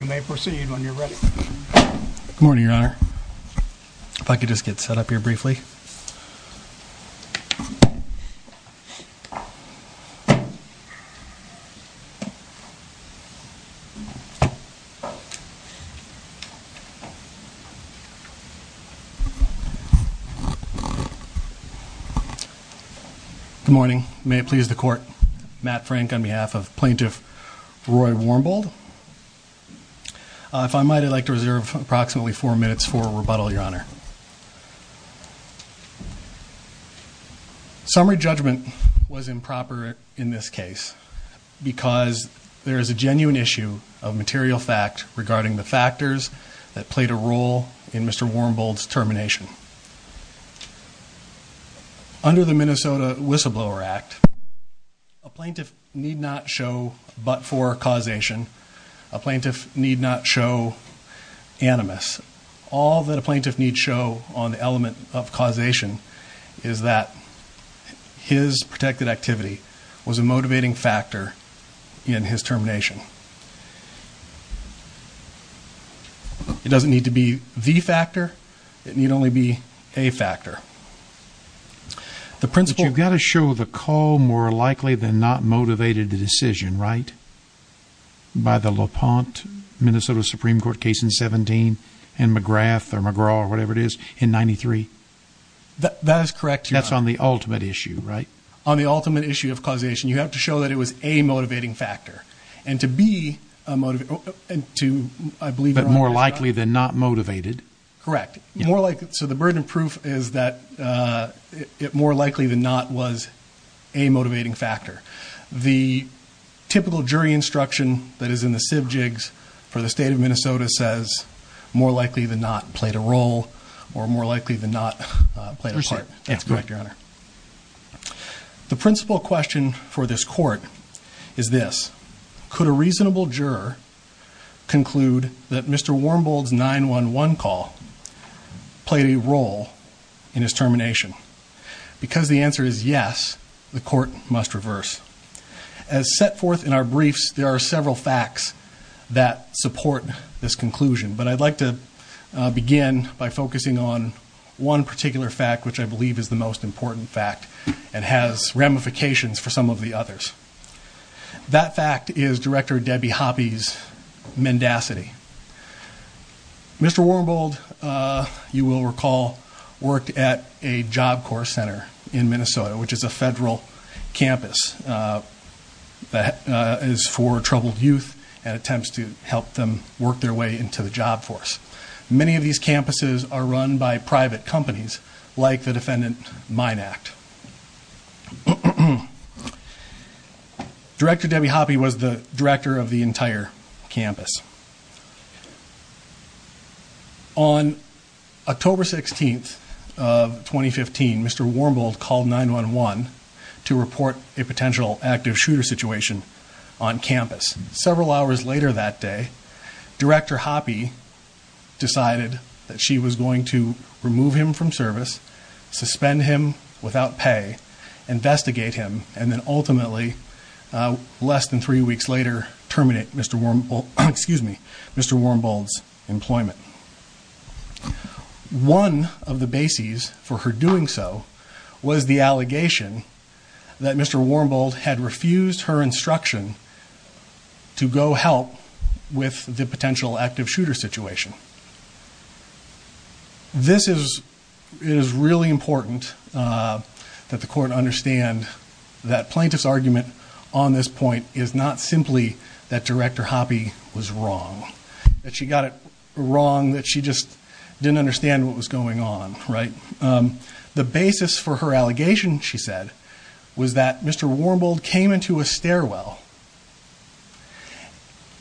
You may proceed when you're ready. Good morning, Your Honor. If I could just get set up here briefly. Good morning. May it please the Court, Matt Frank on behalf of Plaintiff Roy Warmbold. If I might, I'd like to reserve approximately four minutes for rebuttal, Your Honor. Summary judgment was improper in this case because there is a genuine issue of material fact regarding the factors that played a role in Mr. Warmbold's termination. Under the Minnesota Whistleblower Act, a plaintiff need not show but for causation. A plaintiff need not show animus. All that a plaintiff need show on the element of causation is that his protected activity was a motivating factor in his termination. It doesn't need to be the factor. It need only be a factor. But you've got to show the call more likely than not motivated the decision, right? By the LaPont, Minnesota Supreme Court case in 17 and McGrath or McGraw or whatever it is in 93. That is correct, Your Honor. That's on the ultimate issue, right? On the ultimate issue of causation, you have to show that it was a motivating factor. And to be a motivator... But more likely than not motivated. Correct. So the burden of proof is that it more likely than not was a motivating factor. The typical jury instruction that is in the civ jigs for the state of Minnesota says more likely than not played a role or more likely than not played a part. That's correct, Your Honor. The principal question for this court is this. Could a reasonable juror conclude that Mr. Wormbold's 911 call played a role in his termination? Because the answer is yes, the court must reverse. As set forth in our briefs, there are several facts that support this conclusion. But I'd like to begin by focusing on one particular fact which I believe is the most important fact and has ramifications for some of the others. That fact is Director Debbie Hoppe's mendacity. Mr. Wormbold, you will recall, worked at a Job Corps Center in Minnesota, which is a federal campus that is for troubled youth and attempts to help them work their way into the job force. Many of these campuses are run by private companies like the Defendant Mine Act. Director Debbie Hoppe was the director of the entire campus. On October 16th of 2015, Mr. Wormbold called 911 to report a potential active shooter situation on campus. Several hours later that day, Director Hoppe decided that she was going to remove him from service, suspend him without pay, investigate him, and then ultimately, less than three weeks later, terminate Mr. Wormbold's employment. One of the bases for her doing so was the allegation that Mr. Wormbold had refused her instruction to go help with the potential active shooter situation. This is really important that the court understand that plaintiff's argument on this point is not simply that Director Hoppe was wrong, that she got it wrong, that she just didn't understand what was going on. The basis for her allegation, she said, was that Mr. Wormbold came into a stairwell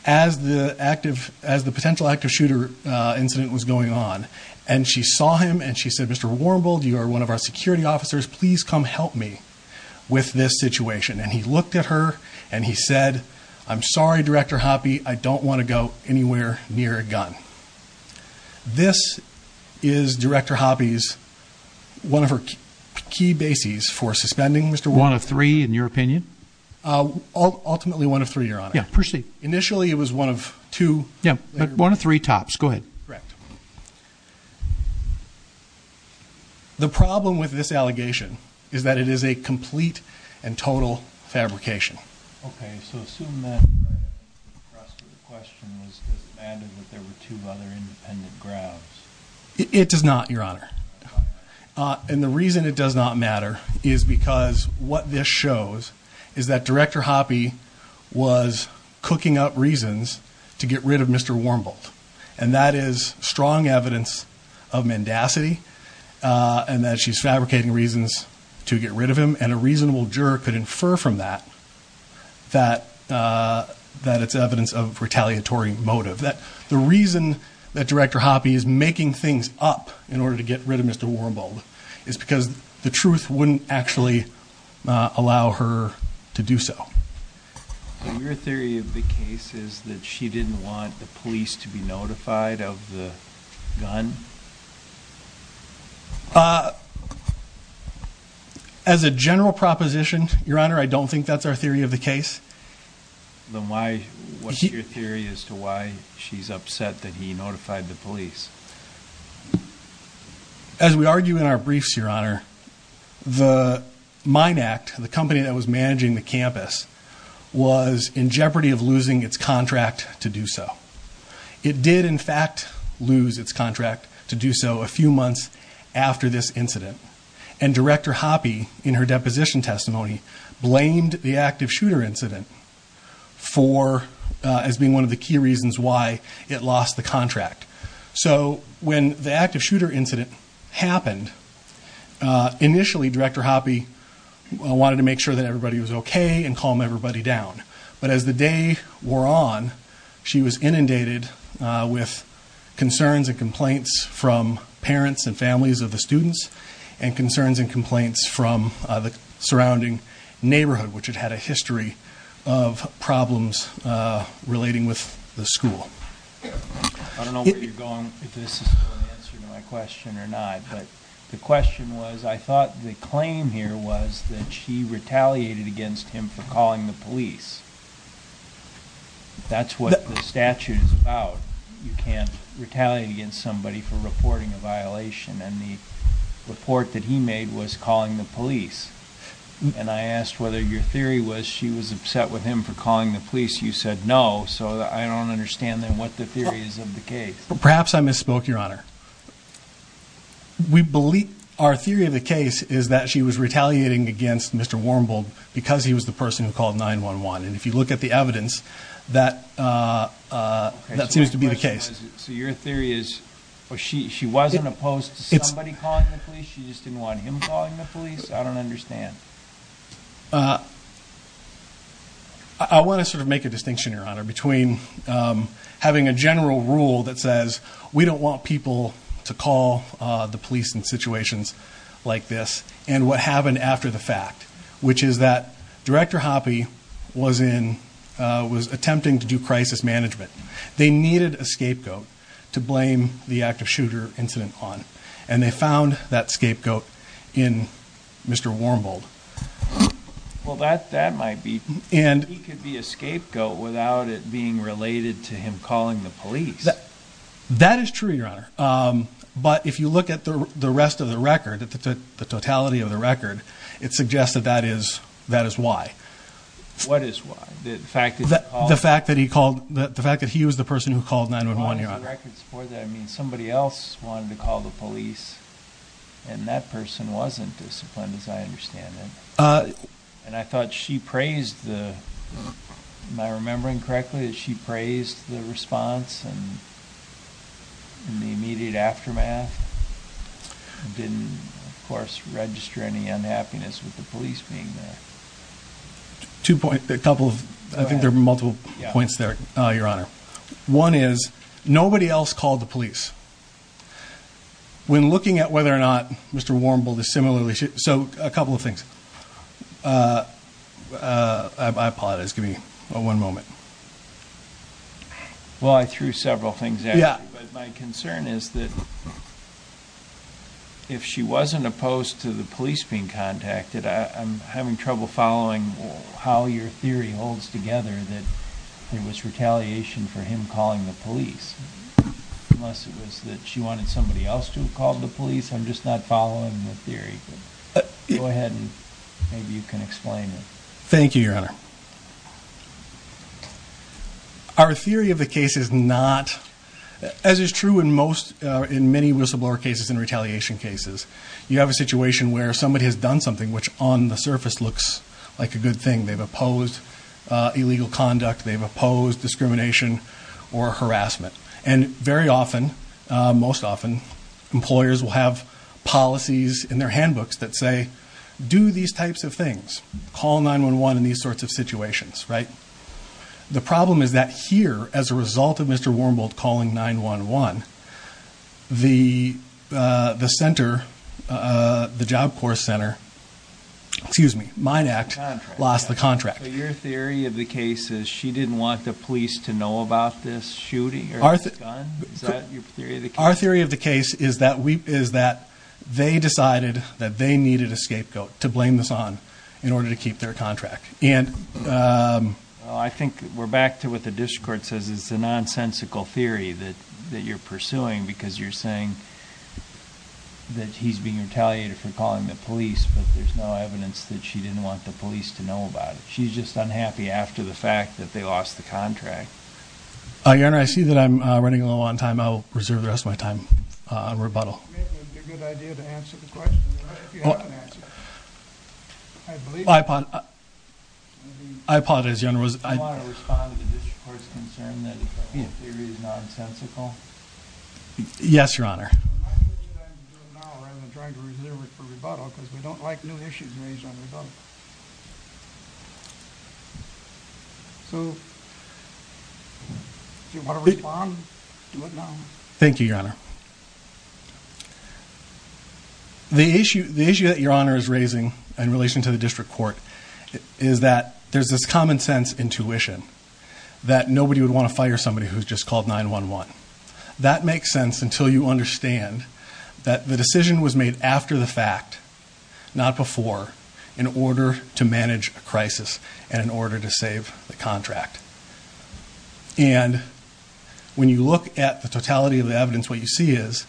as the potential active shooter incident was going on, and she saw him, and she said, Mr. Wormbold, you are one of our security officers. Please come help me with this situation. And he looked at her, and he said, I'm sorry, Director Hoppe. I don't want to go anywhere near a gun. This is Director Hoppe's, one of her key bases for suspending Mr. Wormbold. One of three, in your opinion? Ultimately one of three, Your Honor. Yeah, proceed. Initially it was one of two. Yeah, one of three tops. Go ahead. Correct. The problem with this allegation is that it is a complete and total fabrication. Okay, so assume that the question was, does it matter that there were two other independent grounds? It does not, Your Honor. And the reason it does not matter is because what this shows is that Director Hoppe was cooking up reasons to get rid of Mr. Wormbold, and that is strong evidence of mendacity and that she's fabricating reasons to get rid of him, and a reasonable juror could infer from that that it's evidence of retaliatory motive. The reason that Director Hoppe is making things up in order to get rid of Mr. Wormbold is because the truth wouldn't actually allow her to do so. So your theory of the case is that she didn't want the police to be notified of the gun? As a general proposition, Your Honor, I don't think that's our theory of the case. Then what's your theory as to why she's upset that he notified the police? As we argue in our briefs, Your Honor, the Mine Act, the company that was managing the campus, was in jeopardy of losing its contract to do so. It did, in fact, lose its contract to do so a few months after this incident, and Director Hoppe, in her deposition testimony, blamed the active shooter incident as being one of the key reasons why it lost the contract. So when the active shooter incident happened, initially Director Hoppe wanted to make sure that everybody was okay and calm everybody down. But as the day wore on, she was inundated with concerns and complaints from parents and families of the students and concerns and complaints from the surrounding neighborhood, which had had a history of problems relating with the school. I don't know where you're going, if this is going to answer my question or not, but the question was, I thought the claim here was that she retaliated against him for calling the police. That's what the statute is about. You can't retaliate against somebody for reporting a violation, and the report that he made was calling the police. And I asked whether your theory was she was upset with him for calling the police. You said no, so I don't understand then what the theory is of the case. Perhaps I misspoke, Your Honor. We believe our theory of the case is that she was retaliating against Mr. Warmbould because he was the person who called 911. And if you look at the evidence, that seems to be the case. So your theory is she wasn't opposed to somebody calling the police, she just didn't want him calling the police? I don't understand. I want to sort of make a distinction, Your Honor, between having a general rule that says we don't want people to call the police in situations like this and what happened after the fact, which is that Director Hoppe was attempting to do crisis management. They needed a scapegoat to blame the active shooter incident on, and they found that scapegoat in Mr. Warmbould. Well, that might be... He could be a scapegoat without it being related to him calling the police. That is true, Your Honor. But if you look at the rest of the record, the totality of the record, it suggests that that is why. The fact that he was the person who called 911, Your Honor. I mean, somebody else wanted to call the police, and that person wasn't disciplined, as I understand it. And I thought she praised the... Am I remembering correctly that she praised the response in the immediate aftermath? Didn't, of course, register any unhappiness with the police being there. Two points, a couple of... I think there were multiple points there, Your Honor. One is, nobody else called the police. When looking at whether or not Mr. Warmbould is similarly... So, a couple of things. I apologize. Give me one moment. Well, I threw several things at you, but my concern is that if she wasn't opposed to the police being contacted, I'm having trouble following how your theory holds together that there was retaliation for him calling the police. Unless it was that she wanted somebody else to have called the police. I'm just not following the theory. Go ahead, and maybe you can explain it. Thank you, Your Honor. Our theory of the case is not... As is true in many whistleblower cases and retaliation cases, you have a situation where somebody has done something which, on the surface, looks like a good thing. They've opposed illegal conduct. They've opposed discrimination or harassment. And very often, most often, employers will have policies in their handbooks that say, do these types of things. Call 911 in these sorts of situations, right? The problem is that here, as a result of Mr. Warmbould calling 911, the center, the Job Corps Center... So your theory of the case is she didn't want the police to know about this shooting or this gun? Is that your theory of the case? Our theory of the case is that they decided that they needed a scapegoat to blame this on in order to keep their contract. I think we're back to what the district court says. It's a nonsensical theory that you're pursuing because you're saying that he's being retaliated for calling the police, but there's no evidence that she didn't want the police to know about it. She's just unhappy after the fact that they lost the contract. Your Honor, I see that I'm running low on time. I'll reserve the rest of my time on rebuttal. Maybe it would be a good idea to answer the question if you have an answer. I believe... I apologize, Your Honor. Do you want to respond to the district court's concern that the theory is nonsensical? Yes, Your Honor. I'm going to do it now rather than trying to reserve it for rebuttal because we don't like new issues raised on rebuttal. So... Do you want to respond? Do it now. Thank you, Your Honor. The issue that Your Honor is raising in relation to the district court is that there's this common sense intuition that nobody would want to fire somebody who's just called 911. That makes sense until you understand that the decision was made after the fact, not before, in order to manage a crisis and in order to save the contract. And when you look at the totality of the evidence, what you see is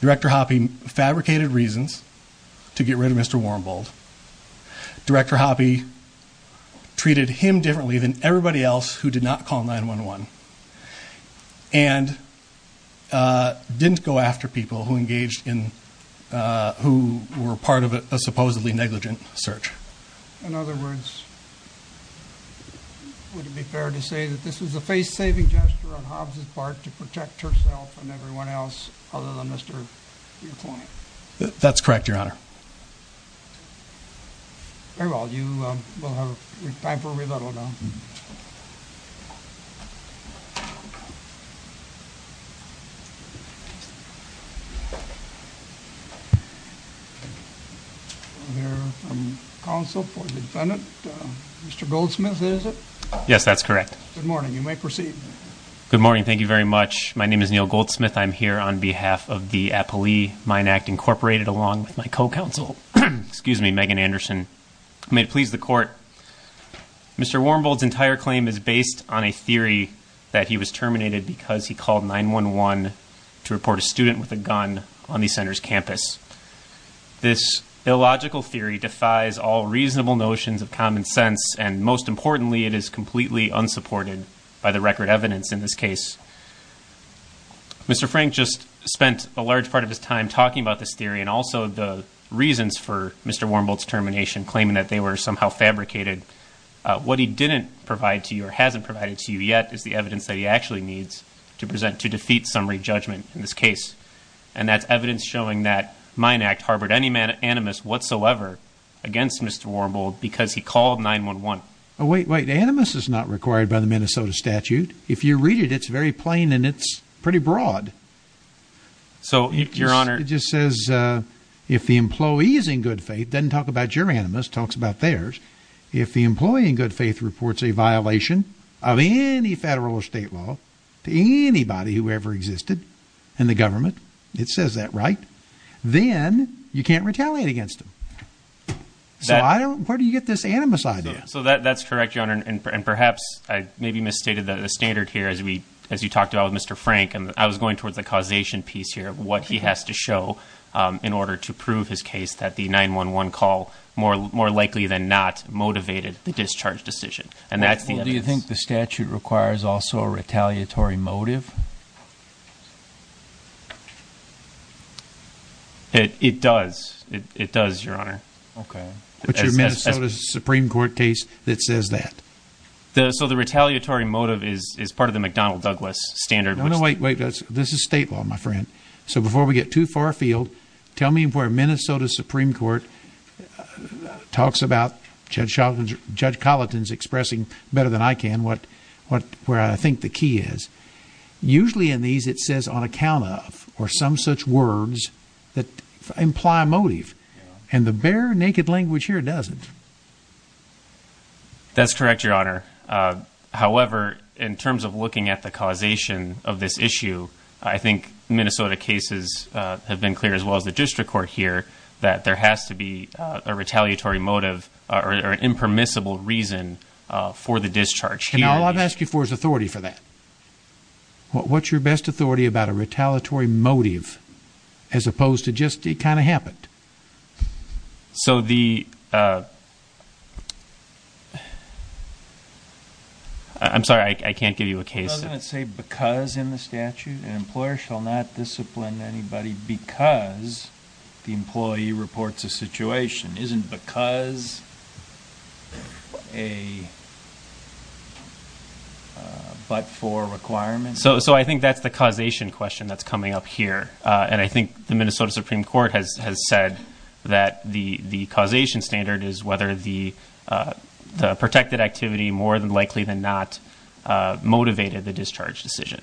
Director Hoppe fabricated reasons to get rid of Mr. Wormbold. Director Hoppe treated him differently than everybody else who did not call 911 and didn't go after people who engaged in... who were part of a supposedly negligent search. In other words, would it be fair to say that this was a face-saving gesture on Hobbs' part to protect herself and everyone else other than Mr. McClain? That's correct, Your Honor. Very well. You will have time for rebuttal now. Mr. Goldsmith, is it? Yes, that's correct. Good morning. You may proceed. Good morning. Thank you very much. My name is Neal Goldsmith. I'm here on behalf of the Appali Mine Act, incorporated along with my co-counsel, excuse me, Megan Anderson. I'm here to please the court. who was a member of the Appali Mine Act, was a member of the Appali Mine Act that he was terminated because he called 911 to report a student with a gun on the center's campus. This illogical theory defies all reasonable notions of common sense, and most importantly, it is completely unsupported by the record evidence in this case. Mr. Frank just spent a large part of his time talking about this theory and also the reasons for Mr. Warmbolt's termination, claiming that they were somehow fabricated. What he didn't provide to you or hasn't provided to you yet is the evidence that he actually needs to present to defeat summary judgment in this case. And that's evidence showing that the Mine Act harbored any animus whatsoever against Mr. Warmbolt because he called 911. Wait, wait, animus is not required by the Minnesota statute. If you read it, it's very plain and it's pretty broad. So, your honor... It just says, if the employee is in good faith, it doesn't talk about your animus, it talks about theirs. If the employee in good faith reports a violation of any federal or state law to anybody who ever existed in the government, it says that, right? Then you can't retaliate against them. So, where do you get this animus idea? So, that's correct, your honor, and perhaps I maybe misstated the standard here as you talked about with Mr. Frank. I was going towards the causation piece here of what he has to show in order to prove his case that the 911 call more likely than not motivated the discharge decision. And that's the animus. Do you think the statute requires also a retaliatory motive? It does, it does, your honor. Okay. What's your Minnesota Supreme Court case that says that? So, the retaliatory motive is part of the McDonnell-Douglas standard. No, no, wait, wait, this is state law, my friend. So, before we get too far afield, tell me where Minnesota Supreme Court talks about Judge Colleton's expressing better than I can where I think the key is. Usually in these it says on account of or some such words that imply a motive. And the bare naked language here doesn't. That's correct, your honor. However, in terms of looking at the causation of this issue, I think Minnesota cases have been clear as well as the district court here that there has to be a retaliatory motive or an impermissible reason for the discharge here. And all I'm asking for is authority for that. What's your best authority about a retaliatory motive as opposed to just it kind of happened? So, the... I'm sorry, I can't give you a case. Doesn't it say because in the statute an employer shall not discipline anybody because the employee reports a situation? Isn't because a but for requirement? So, I think that's the causation question that's coming up here. And I think the Minnesota Supreme Court has said that the causation standard is whether the protected activity more than likely than not motivated the discharge decision.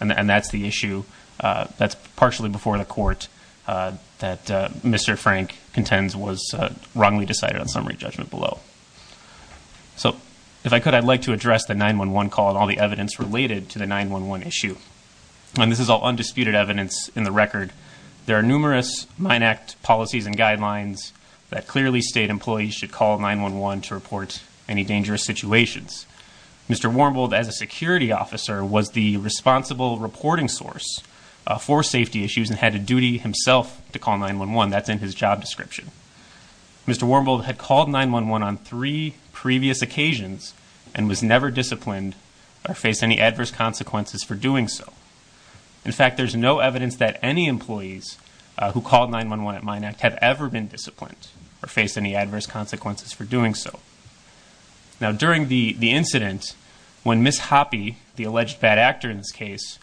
And that's the issue that's partially before the court that Mr. Frank contends was wrongly decided on summary judgment below. So, if I could, I'd like to address the 911 call and all the evidence related to the 911 issue. And this is all undisputed evidence in the record. There are numerous Mine Act policies and guidelines that clearly state employees should call 911 to report any dangerous situations. Mr. Warmbould, as a security officer, was the responsible reporting source for safety issues and had a duty himself to call 911. That's in his job description. Mr. Warmbould had called 911 on three previous occasions and was never disciplined or faced any adverse consequences for doing so. In fact, there's no evidence that any employees who called 911 at Mine Act have ever been disciplined or faced any adverse consequences for doing so. Now, during the incident when Ms. Hoppe, the alleged bad actor in this case,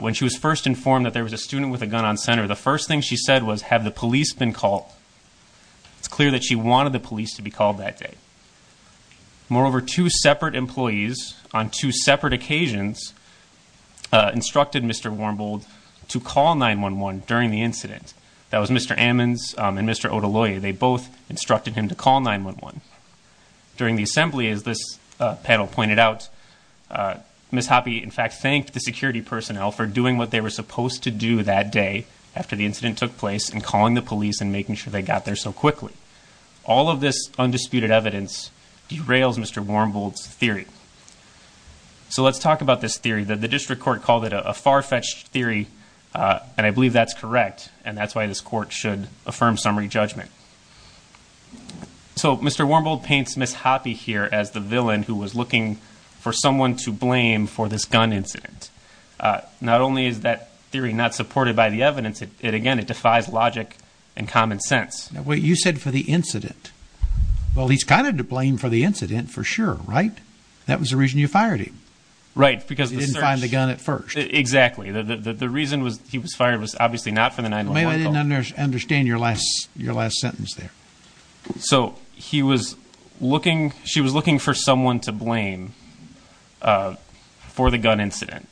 when she was first informed that there was a student with a gun on center, the first thing she said was, have the police been called? It's clear that she wanted the police to be called that day. Moreover, two separate employees on two separate occasions instructed Mr. Warmbould to call 911 during the incident. That was Mr. Ammons and Mr. Otoloye. They both instructed him to call 911. During the assembly, as this panel pointed out, Ms. Hoppe, in fact, thanked the security personnel for doing what they were supposed to do that day after the incident took place and calling the police and making sure they got there so quickly. All of this undisputed evidence derails Mr. Warmbould's theory. So let's talk about this theory. The district court called it a far-fetched theory, and I believe that's correct, and that's why this court should affirm summary judgment. So Mr. Warmbould paints Ms. Hoppe here as the villain who was looking for someone to blame for this gun incident. Not only is that theory not supported by the evidence, again, it defies logic and common sense. You said for the incident. Well, he's kind of to blame for the incident for sure, right? That was the reason you fired him. Right, because the search... You didn't find the gun at first. Exactly. The reason he was fired was obviously not for the 911 call. Maybe I didn't understand your last sentence there. So she was looking for someone to blame for the gun incident.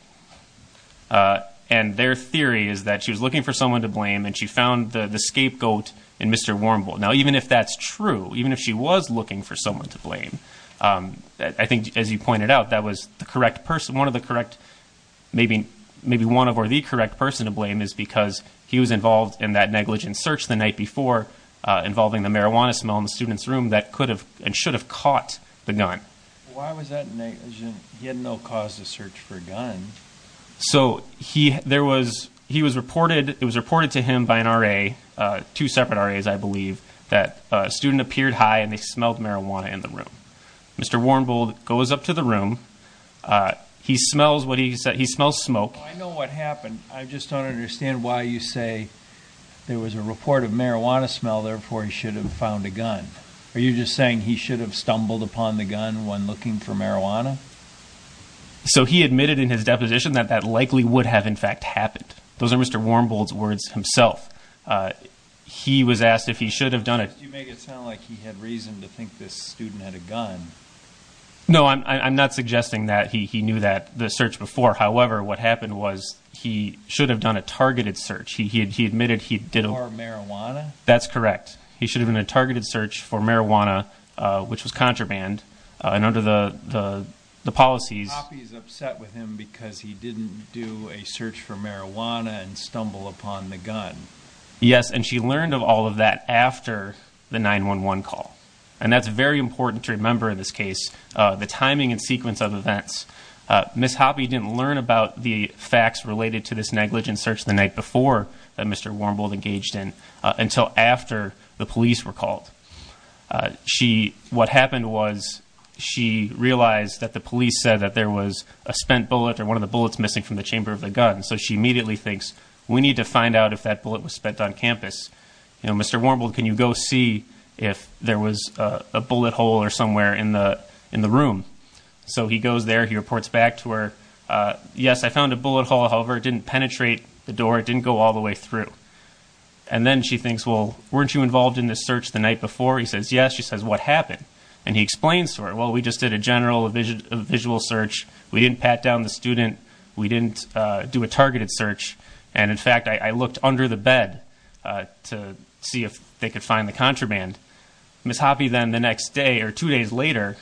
And their theory is that she was looking for someone to blame and she found the scapegoat in Mr. Warmbould. Now, even if that's true, even if she was looking for someone to blame, I think, as you pointed out, that was the correct person, one of the correct, maybe one of or the correct person to blame is because he was involved in that negligent search the night before involving the marijuana smell in the student's room that could have and should have caught the gun. Why was that negligent? He had no cause to search for a gun. So he was reported to him by an RA, two separate RAs, I believe, that a student appeared high and they smelled marijuana in the room. Mr. Warmbould goes up to the room. He smells smoke. I know what happened. I just don't understand why you say there was a report of marijuana smell, therefore he should have found a gun. Are you just saying he should have stumbled upon the gun when looking for marijuana? So he admitted in his deposition that that likely would have, in fact, happened. Those are Mr. Warmbould's words himself. He was asked if he should have done it. You make it sound like he had reason to think this student had a gun. No, I'm not suggesting that. He knew that, the search before. However, what happened was he should have done a targeted search. He admitted he did. For marijuana? That's correct. He should have done a targeted search for marijuana, which was contraband, and under the policies. Hoppe is upset with him because he didn't do a search for marijuana and stumble upon the gun. Yes, and she learned of all of that after the 911 call, and that's very important to remember in this case, the timing and sequence of events. Ms. Hoppe didn't learn about the facts related to this negligent search the night before that Mr. Warmbould engaged in until after the police were called. What happened was she realized that the police said that there was a spent bullet or one of the bullets missing from the chamber of the gun, so she immediately thinks, we need to find out if that bullet was spent on campus. Mr. Warmbould, can you go see if there was a bullet hole or somewhere in the room? So he goes there. He reports back to her. Yes, I found a bullet hole. However, it didn't penetrate the door. It didn't go all the way through. And then she thinks, well, weren't you involved in this search the night before? He says, yes. She says, what happened? And he explains to her, well, we just did a general visual search. We didn't pat down the student. We didn't do a targeted search. And, in fact, I looked under the bed to see if they could find the contraband. Ms. Hoppe then the next day or two days later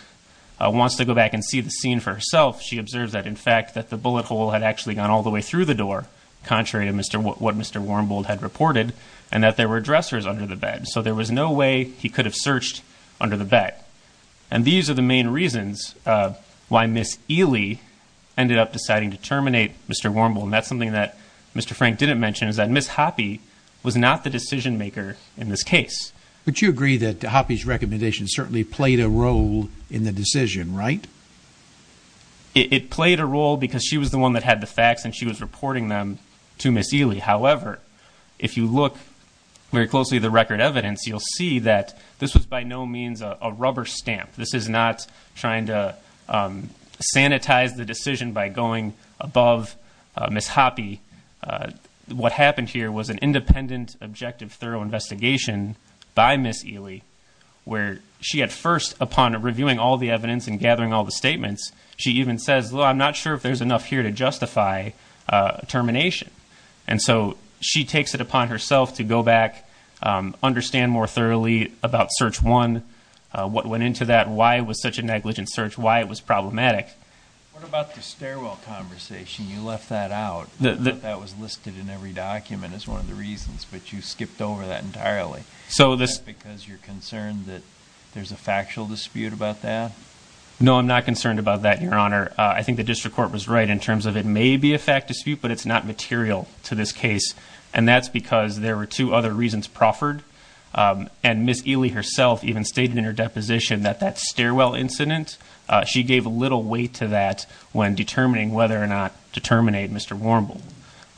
wants to go back and see the scene for herself. She observes that, in fact, that the bullet hole had actually gone all the way through the door, contrary to what Mr. Warmbould had reported, and that there were dressers under the bed. So there was no way he could have searched under the bed. And these are the main reasons why Ms. Ely ended up deciding to terminate Mr. Warmbould. And that's something that Mr. Frank didn't mention, is that Ms. Hoppe was not the decision-maker in this case. But you agree that Hoppe's recommendation certainly played a role in the decision, right? It played a role because she was the one that had the facts and she was reporting them to Ms. Ely. However, if you look very closely at the record evidence, you'll see that this was by no means a rubber stamp. This is not trying to sanitize the decision by going above Ms. Hoppe. What happened here was an independent, objective, thorough investigation by Ms. Ely, where she at first, upon reviewing all the evidence and gathering all the statements, she even says, well, I'm not sure if there's enough here to justify termination. And so she takes it upon herself to go back, understand more thoroughly about Search 1, what went into that, why it was such a negligent search, why it was problematic. What about the stairwell conversation? You left that out. I thought that was listed in every document as one of the reasons, but you skipped over that entirely. Is that because you're concerned that there's a factual dispute about that? No, I'm not concerned about that, Your Honor. I think the district court was right in terms of it may be a fact dispute, but it's not material to this case. And that's because there were two other reasons proffered. And Ms. Ely herself even stated in her deposition that that stairwell incident, she gave a little weight to that when determining whether or not to terminate Mr. Warmbull.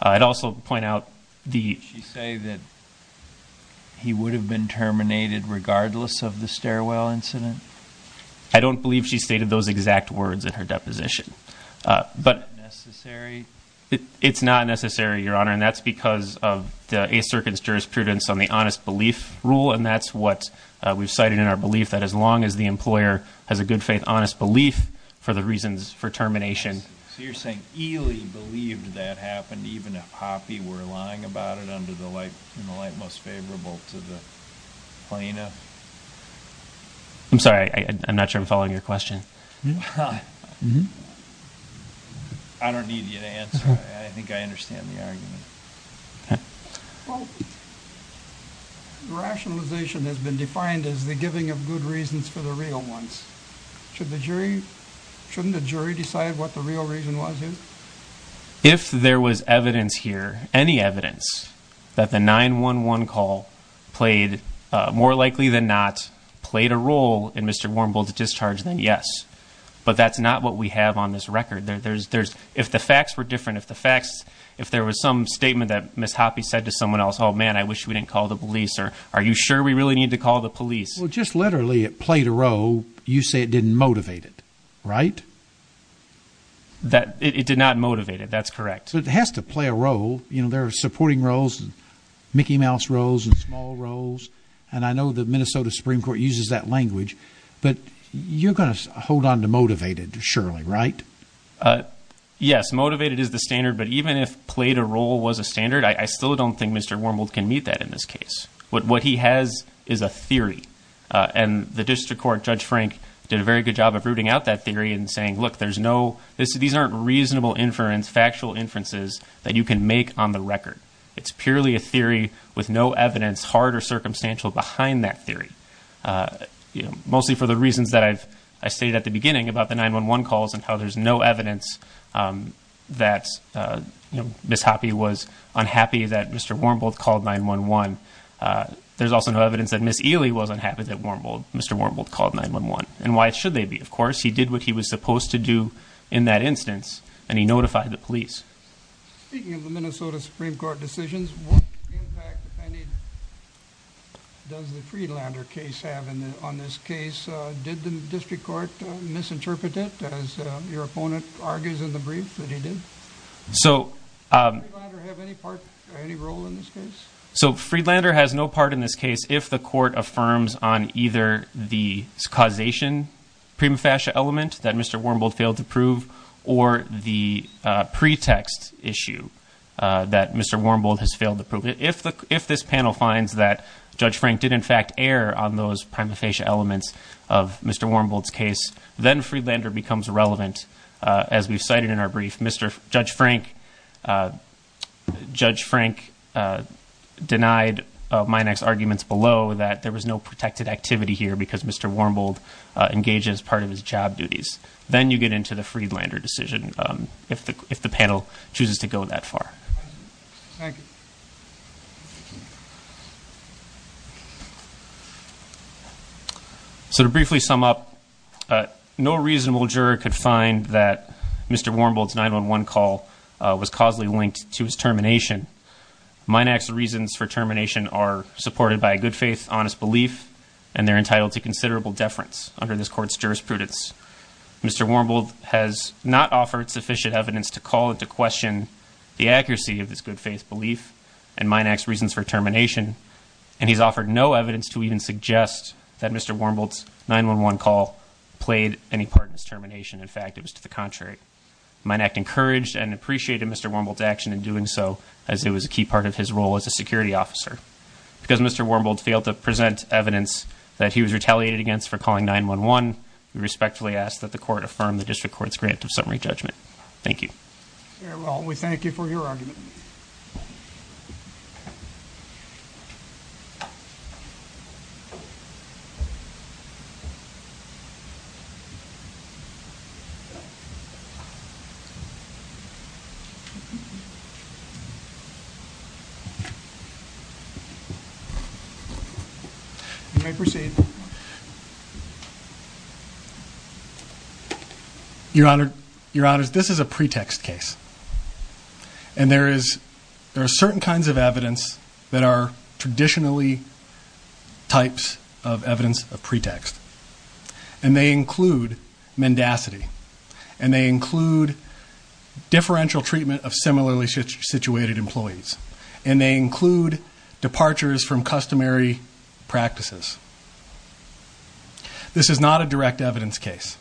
I'd also point out the- Did she say that he would have been terminated regardless of the stairwell incident? I don't believe she stated those exact words in her deposition. Is that necessary? It's not necessary, Your Honor, and that's because of the A Circuit's jurisprudence on the honest belief rule, and that's what we've cited in our belief that as long as the employer has a good faith honest belief for the reasons for termination- So you're saying Ely believed that happened even if Hoppe were lying about it under the light most favorable to the plaintiff? I'm sorry. I'm not sure I'm following your question. I don't need you to answer. I think I understand the argument. Well, rationalization has been defined as the giving of good reasons for the real ones. Shouldn't the jury decide what the real reason was here? If there was evidence here, any evidence, that the 911 call played, more likely than not, played a role in Mr. Warmbull's discharge, then yes. But that's not what we have on this record. If the facts were different, if there was some statement that Ms. Hoppe said to someone else, oh, man, I wish we didn't call the police, or are you sure we really need to call the police? Well, just literally it played a role. You say it didn't motivate it, right? It did not motivate it. That's correct. It has to play a role. There are supporting roles and Mickey Mouse roles and small roles. And I know the Minnesota Supreme Court uses that language. But you're going to hold on to motivated, surely, right? Yes, motivated is the standard. But even if played a role was a standard, I still don't think Mr. Warmbull can meet that in this case. What he has is a theory. And the district court, Judge Frank, did a very good job of rooting out that theory and saying, look, these aren't reasonable factual inferences that you can make on the record. It's purely a theory with no evidence, hard or circumstantial, behind that theory, mostly for the reasons that I stated at the beginning about the 911 calls and how there's no evidence that Ms. Hoppe was unhappy that Mr. Warmbull called 911. There's also no evidence that Ms. Ely was unhappy that Mr. Warmbull called 911. And why should they be? Of course, he did what he was supposed to do in that instance, and he notified the police. Speaking of the Minnesota Supreme Court decisions, what impact, if any, does the Friedlander case have on this case? Did the district court misinterpret it, as your opponent argues in the brief that he did? Does Friedlander have any part or any role in this case? So Friedlander has no part in this case if the court affirms on either the causation prima facie element that Mr. Warmbull failed to prove or the pretext issue that Mr. Warmbull has failed to prove. If this panel finds that Judge Frank did, in fact, err on those prima facie elements of Mr. Warmbull's case, then Friedlander becomes relevant. As we've cited in our brief, Judge Frank denied Minack's arguments below that there was no protected activity here because Mr. Warmbull engaged as part of his job duties. Then you get into the Friedlander decision if the panel chooses to go that far. Thank you. So to briefly sum up, no reasonable juror could find that Mr. Warmbull's 911 call was causally linked to his termination. Minack's reasons for termination are supported by a good faith, honest belief, and they're entitled to considerable deference under this court's jurisprudence. Mr. Warmbull has not offered sufficient evidence to call into question the accuracy of this good faith belief and Minack's reasons for termination. And he's offered no evidence to even suggest that Mr. Warmbull's 911 call played any part in his termination. In fact, it was to the contrary. Minack encouraged and appreciated Mr. Warmbull's action in doing so as it was a key part of his role as a security officer. Because Mr. Warmbull failed to present evidence that he was retaliated against for calling 911, we respectfully ask that the court affirm the district court's grant of summary judgment. Thank you. Well, we thank you for your argument. You may proceed. Your Honor, your Honor, this is a pretext case. And there is, there are certain kinds of evidence that are traditionally types of evidence of pretext. And they include mendacity. And they include differential treatment of similarly situated employees. And they include departures from customary practices. This is not a direct evidence case.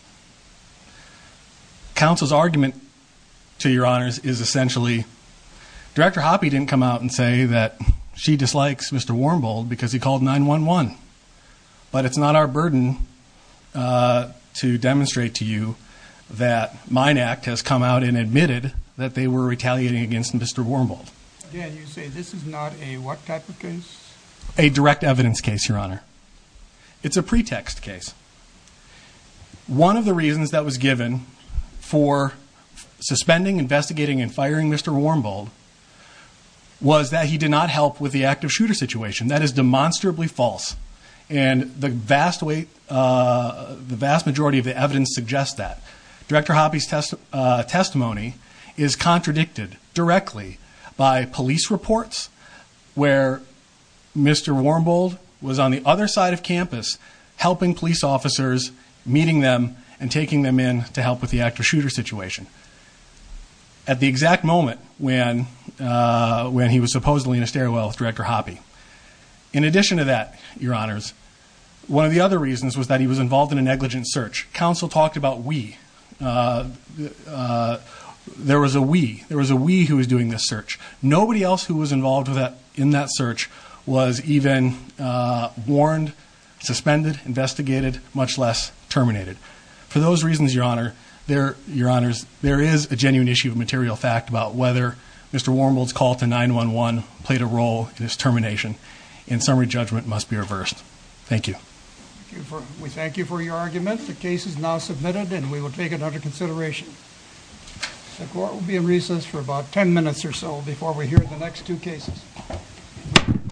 Counsel's argument to your honors is essentially Director Hoppe didn't come out and say that she dislikes Mr. Warmbull because he called 911. But it's not our burden to demonstrate to you that Minack has come out and admitted that they were retaliating against Mr. Warmbull. A direct evidence case, your Honor. It's a pretext case. One of the reasons that was given for suspending, investigating, and firing Mr. Warmbull was that he did not help with the active shooter situation. That is demonstrably false. And the vast weight, the vast majority of the evidence suggests that. Director Hoppe's testimony is contradicted directly by police reports where Mr. Warmbull was on the other side of campus helping police officers, meeting them, and taking them in to help with the active shooter situation. At the exact moment when he was supposedly in a stairwell with Director Hoppe. In addition to that, your honors, one of the other reasons was that he was involved in a negligent search. Counsel talked about we. There was a we. There was a we who was doing this search. Nobody else who was involved in that search was even warned, suspended, investigated, much less terminated. For those reasons, your honors, there is a genuine issue of material fact about whether Mr. Warmbull's call to 911 played a role in his termination. And summary judgment must be reversed. Thank you. We thank you for your argument. The case is now submitted and we will take it under consideration. The court will be in recess for about ten minutes or so before we hear the next two cases.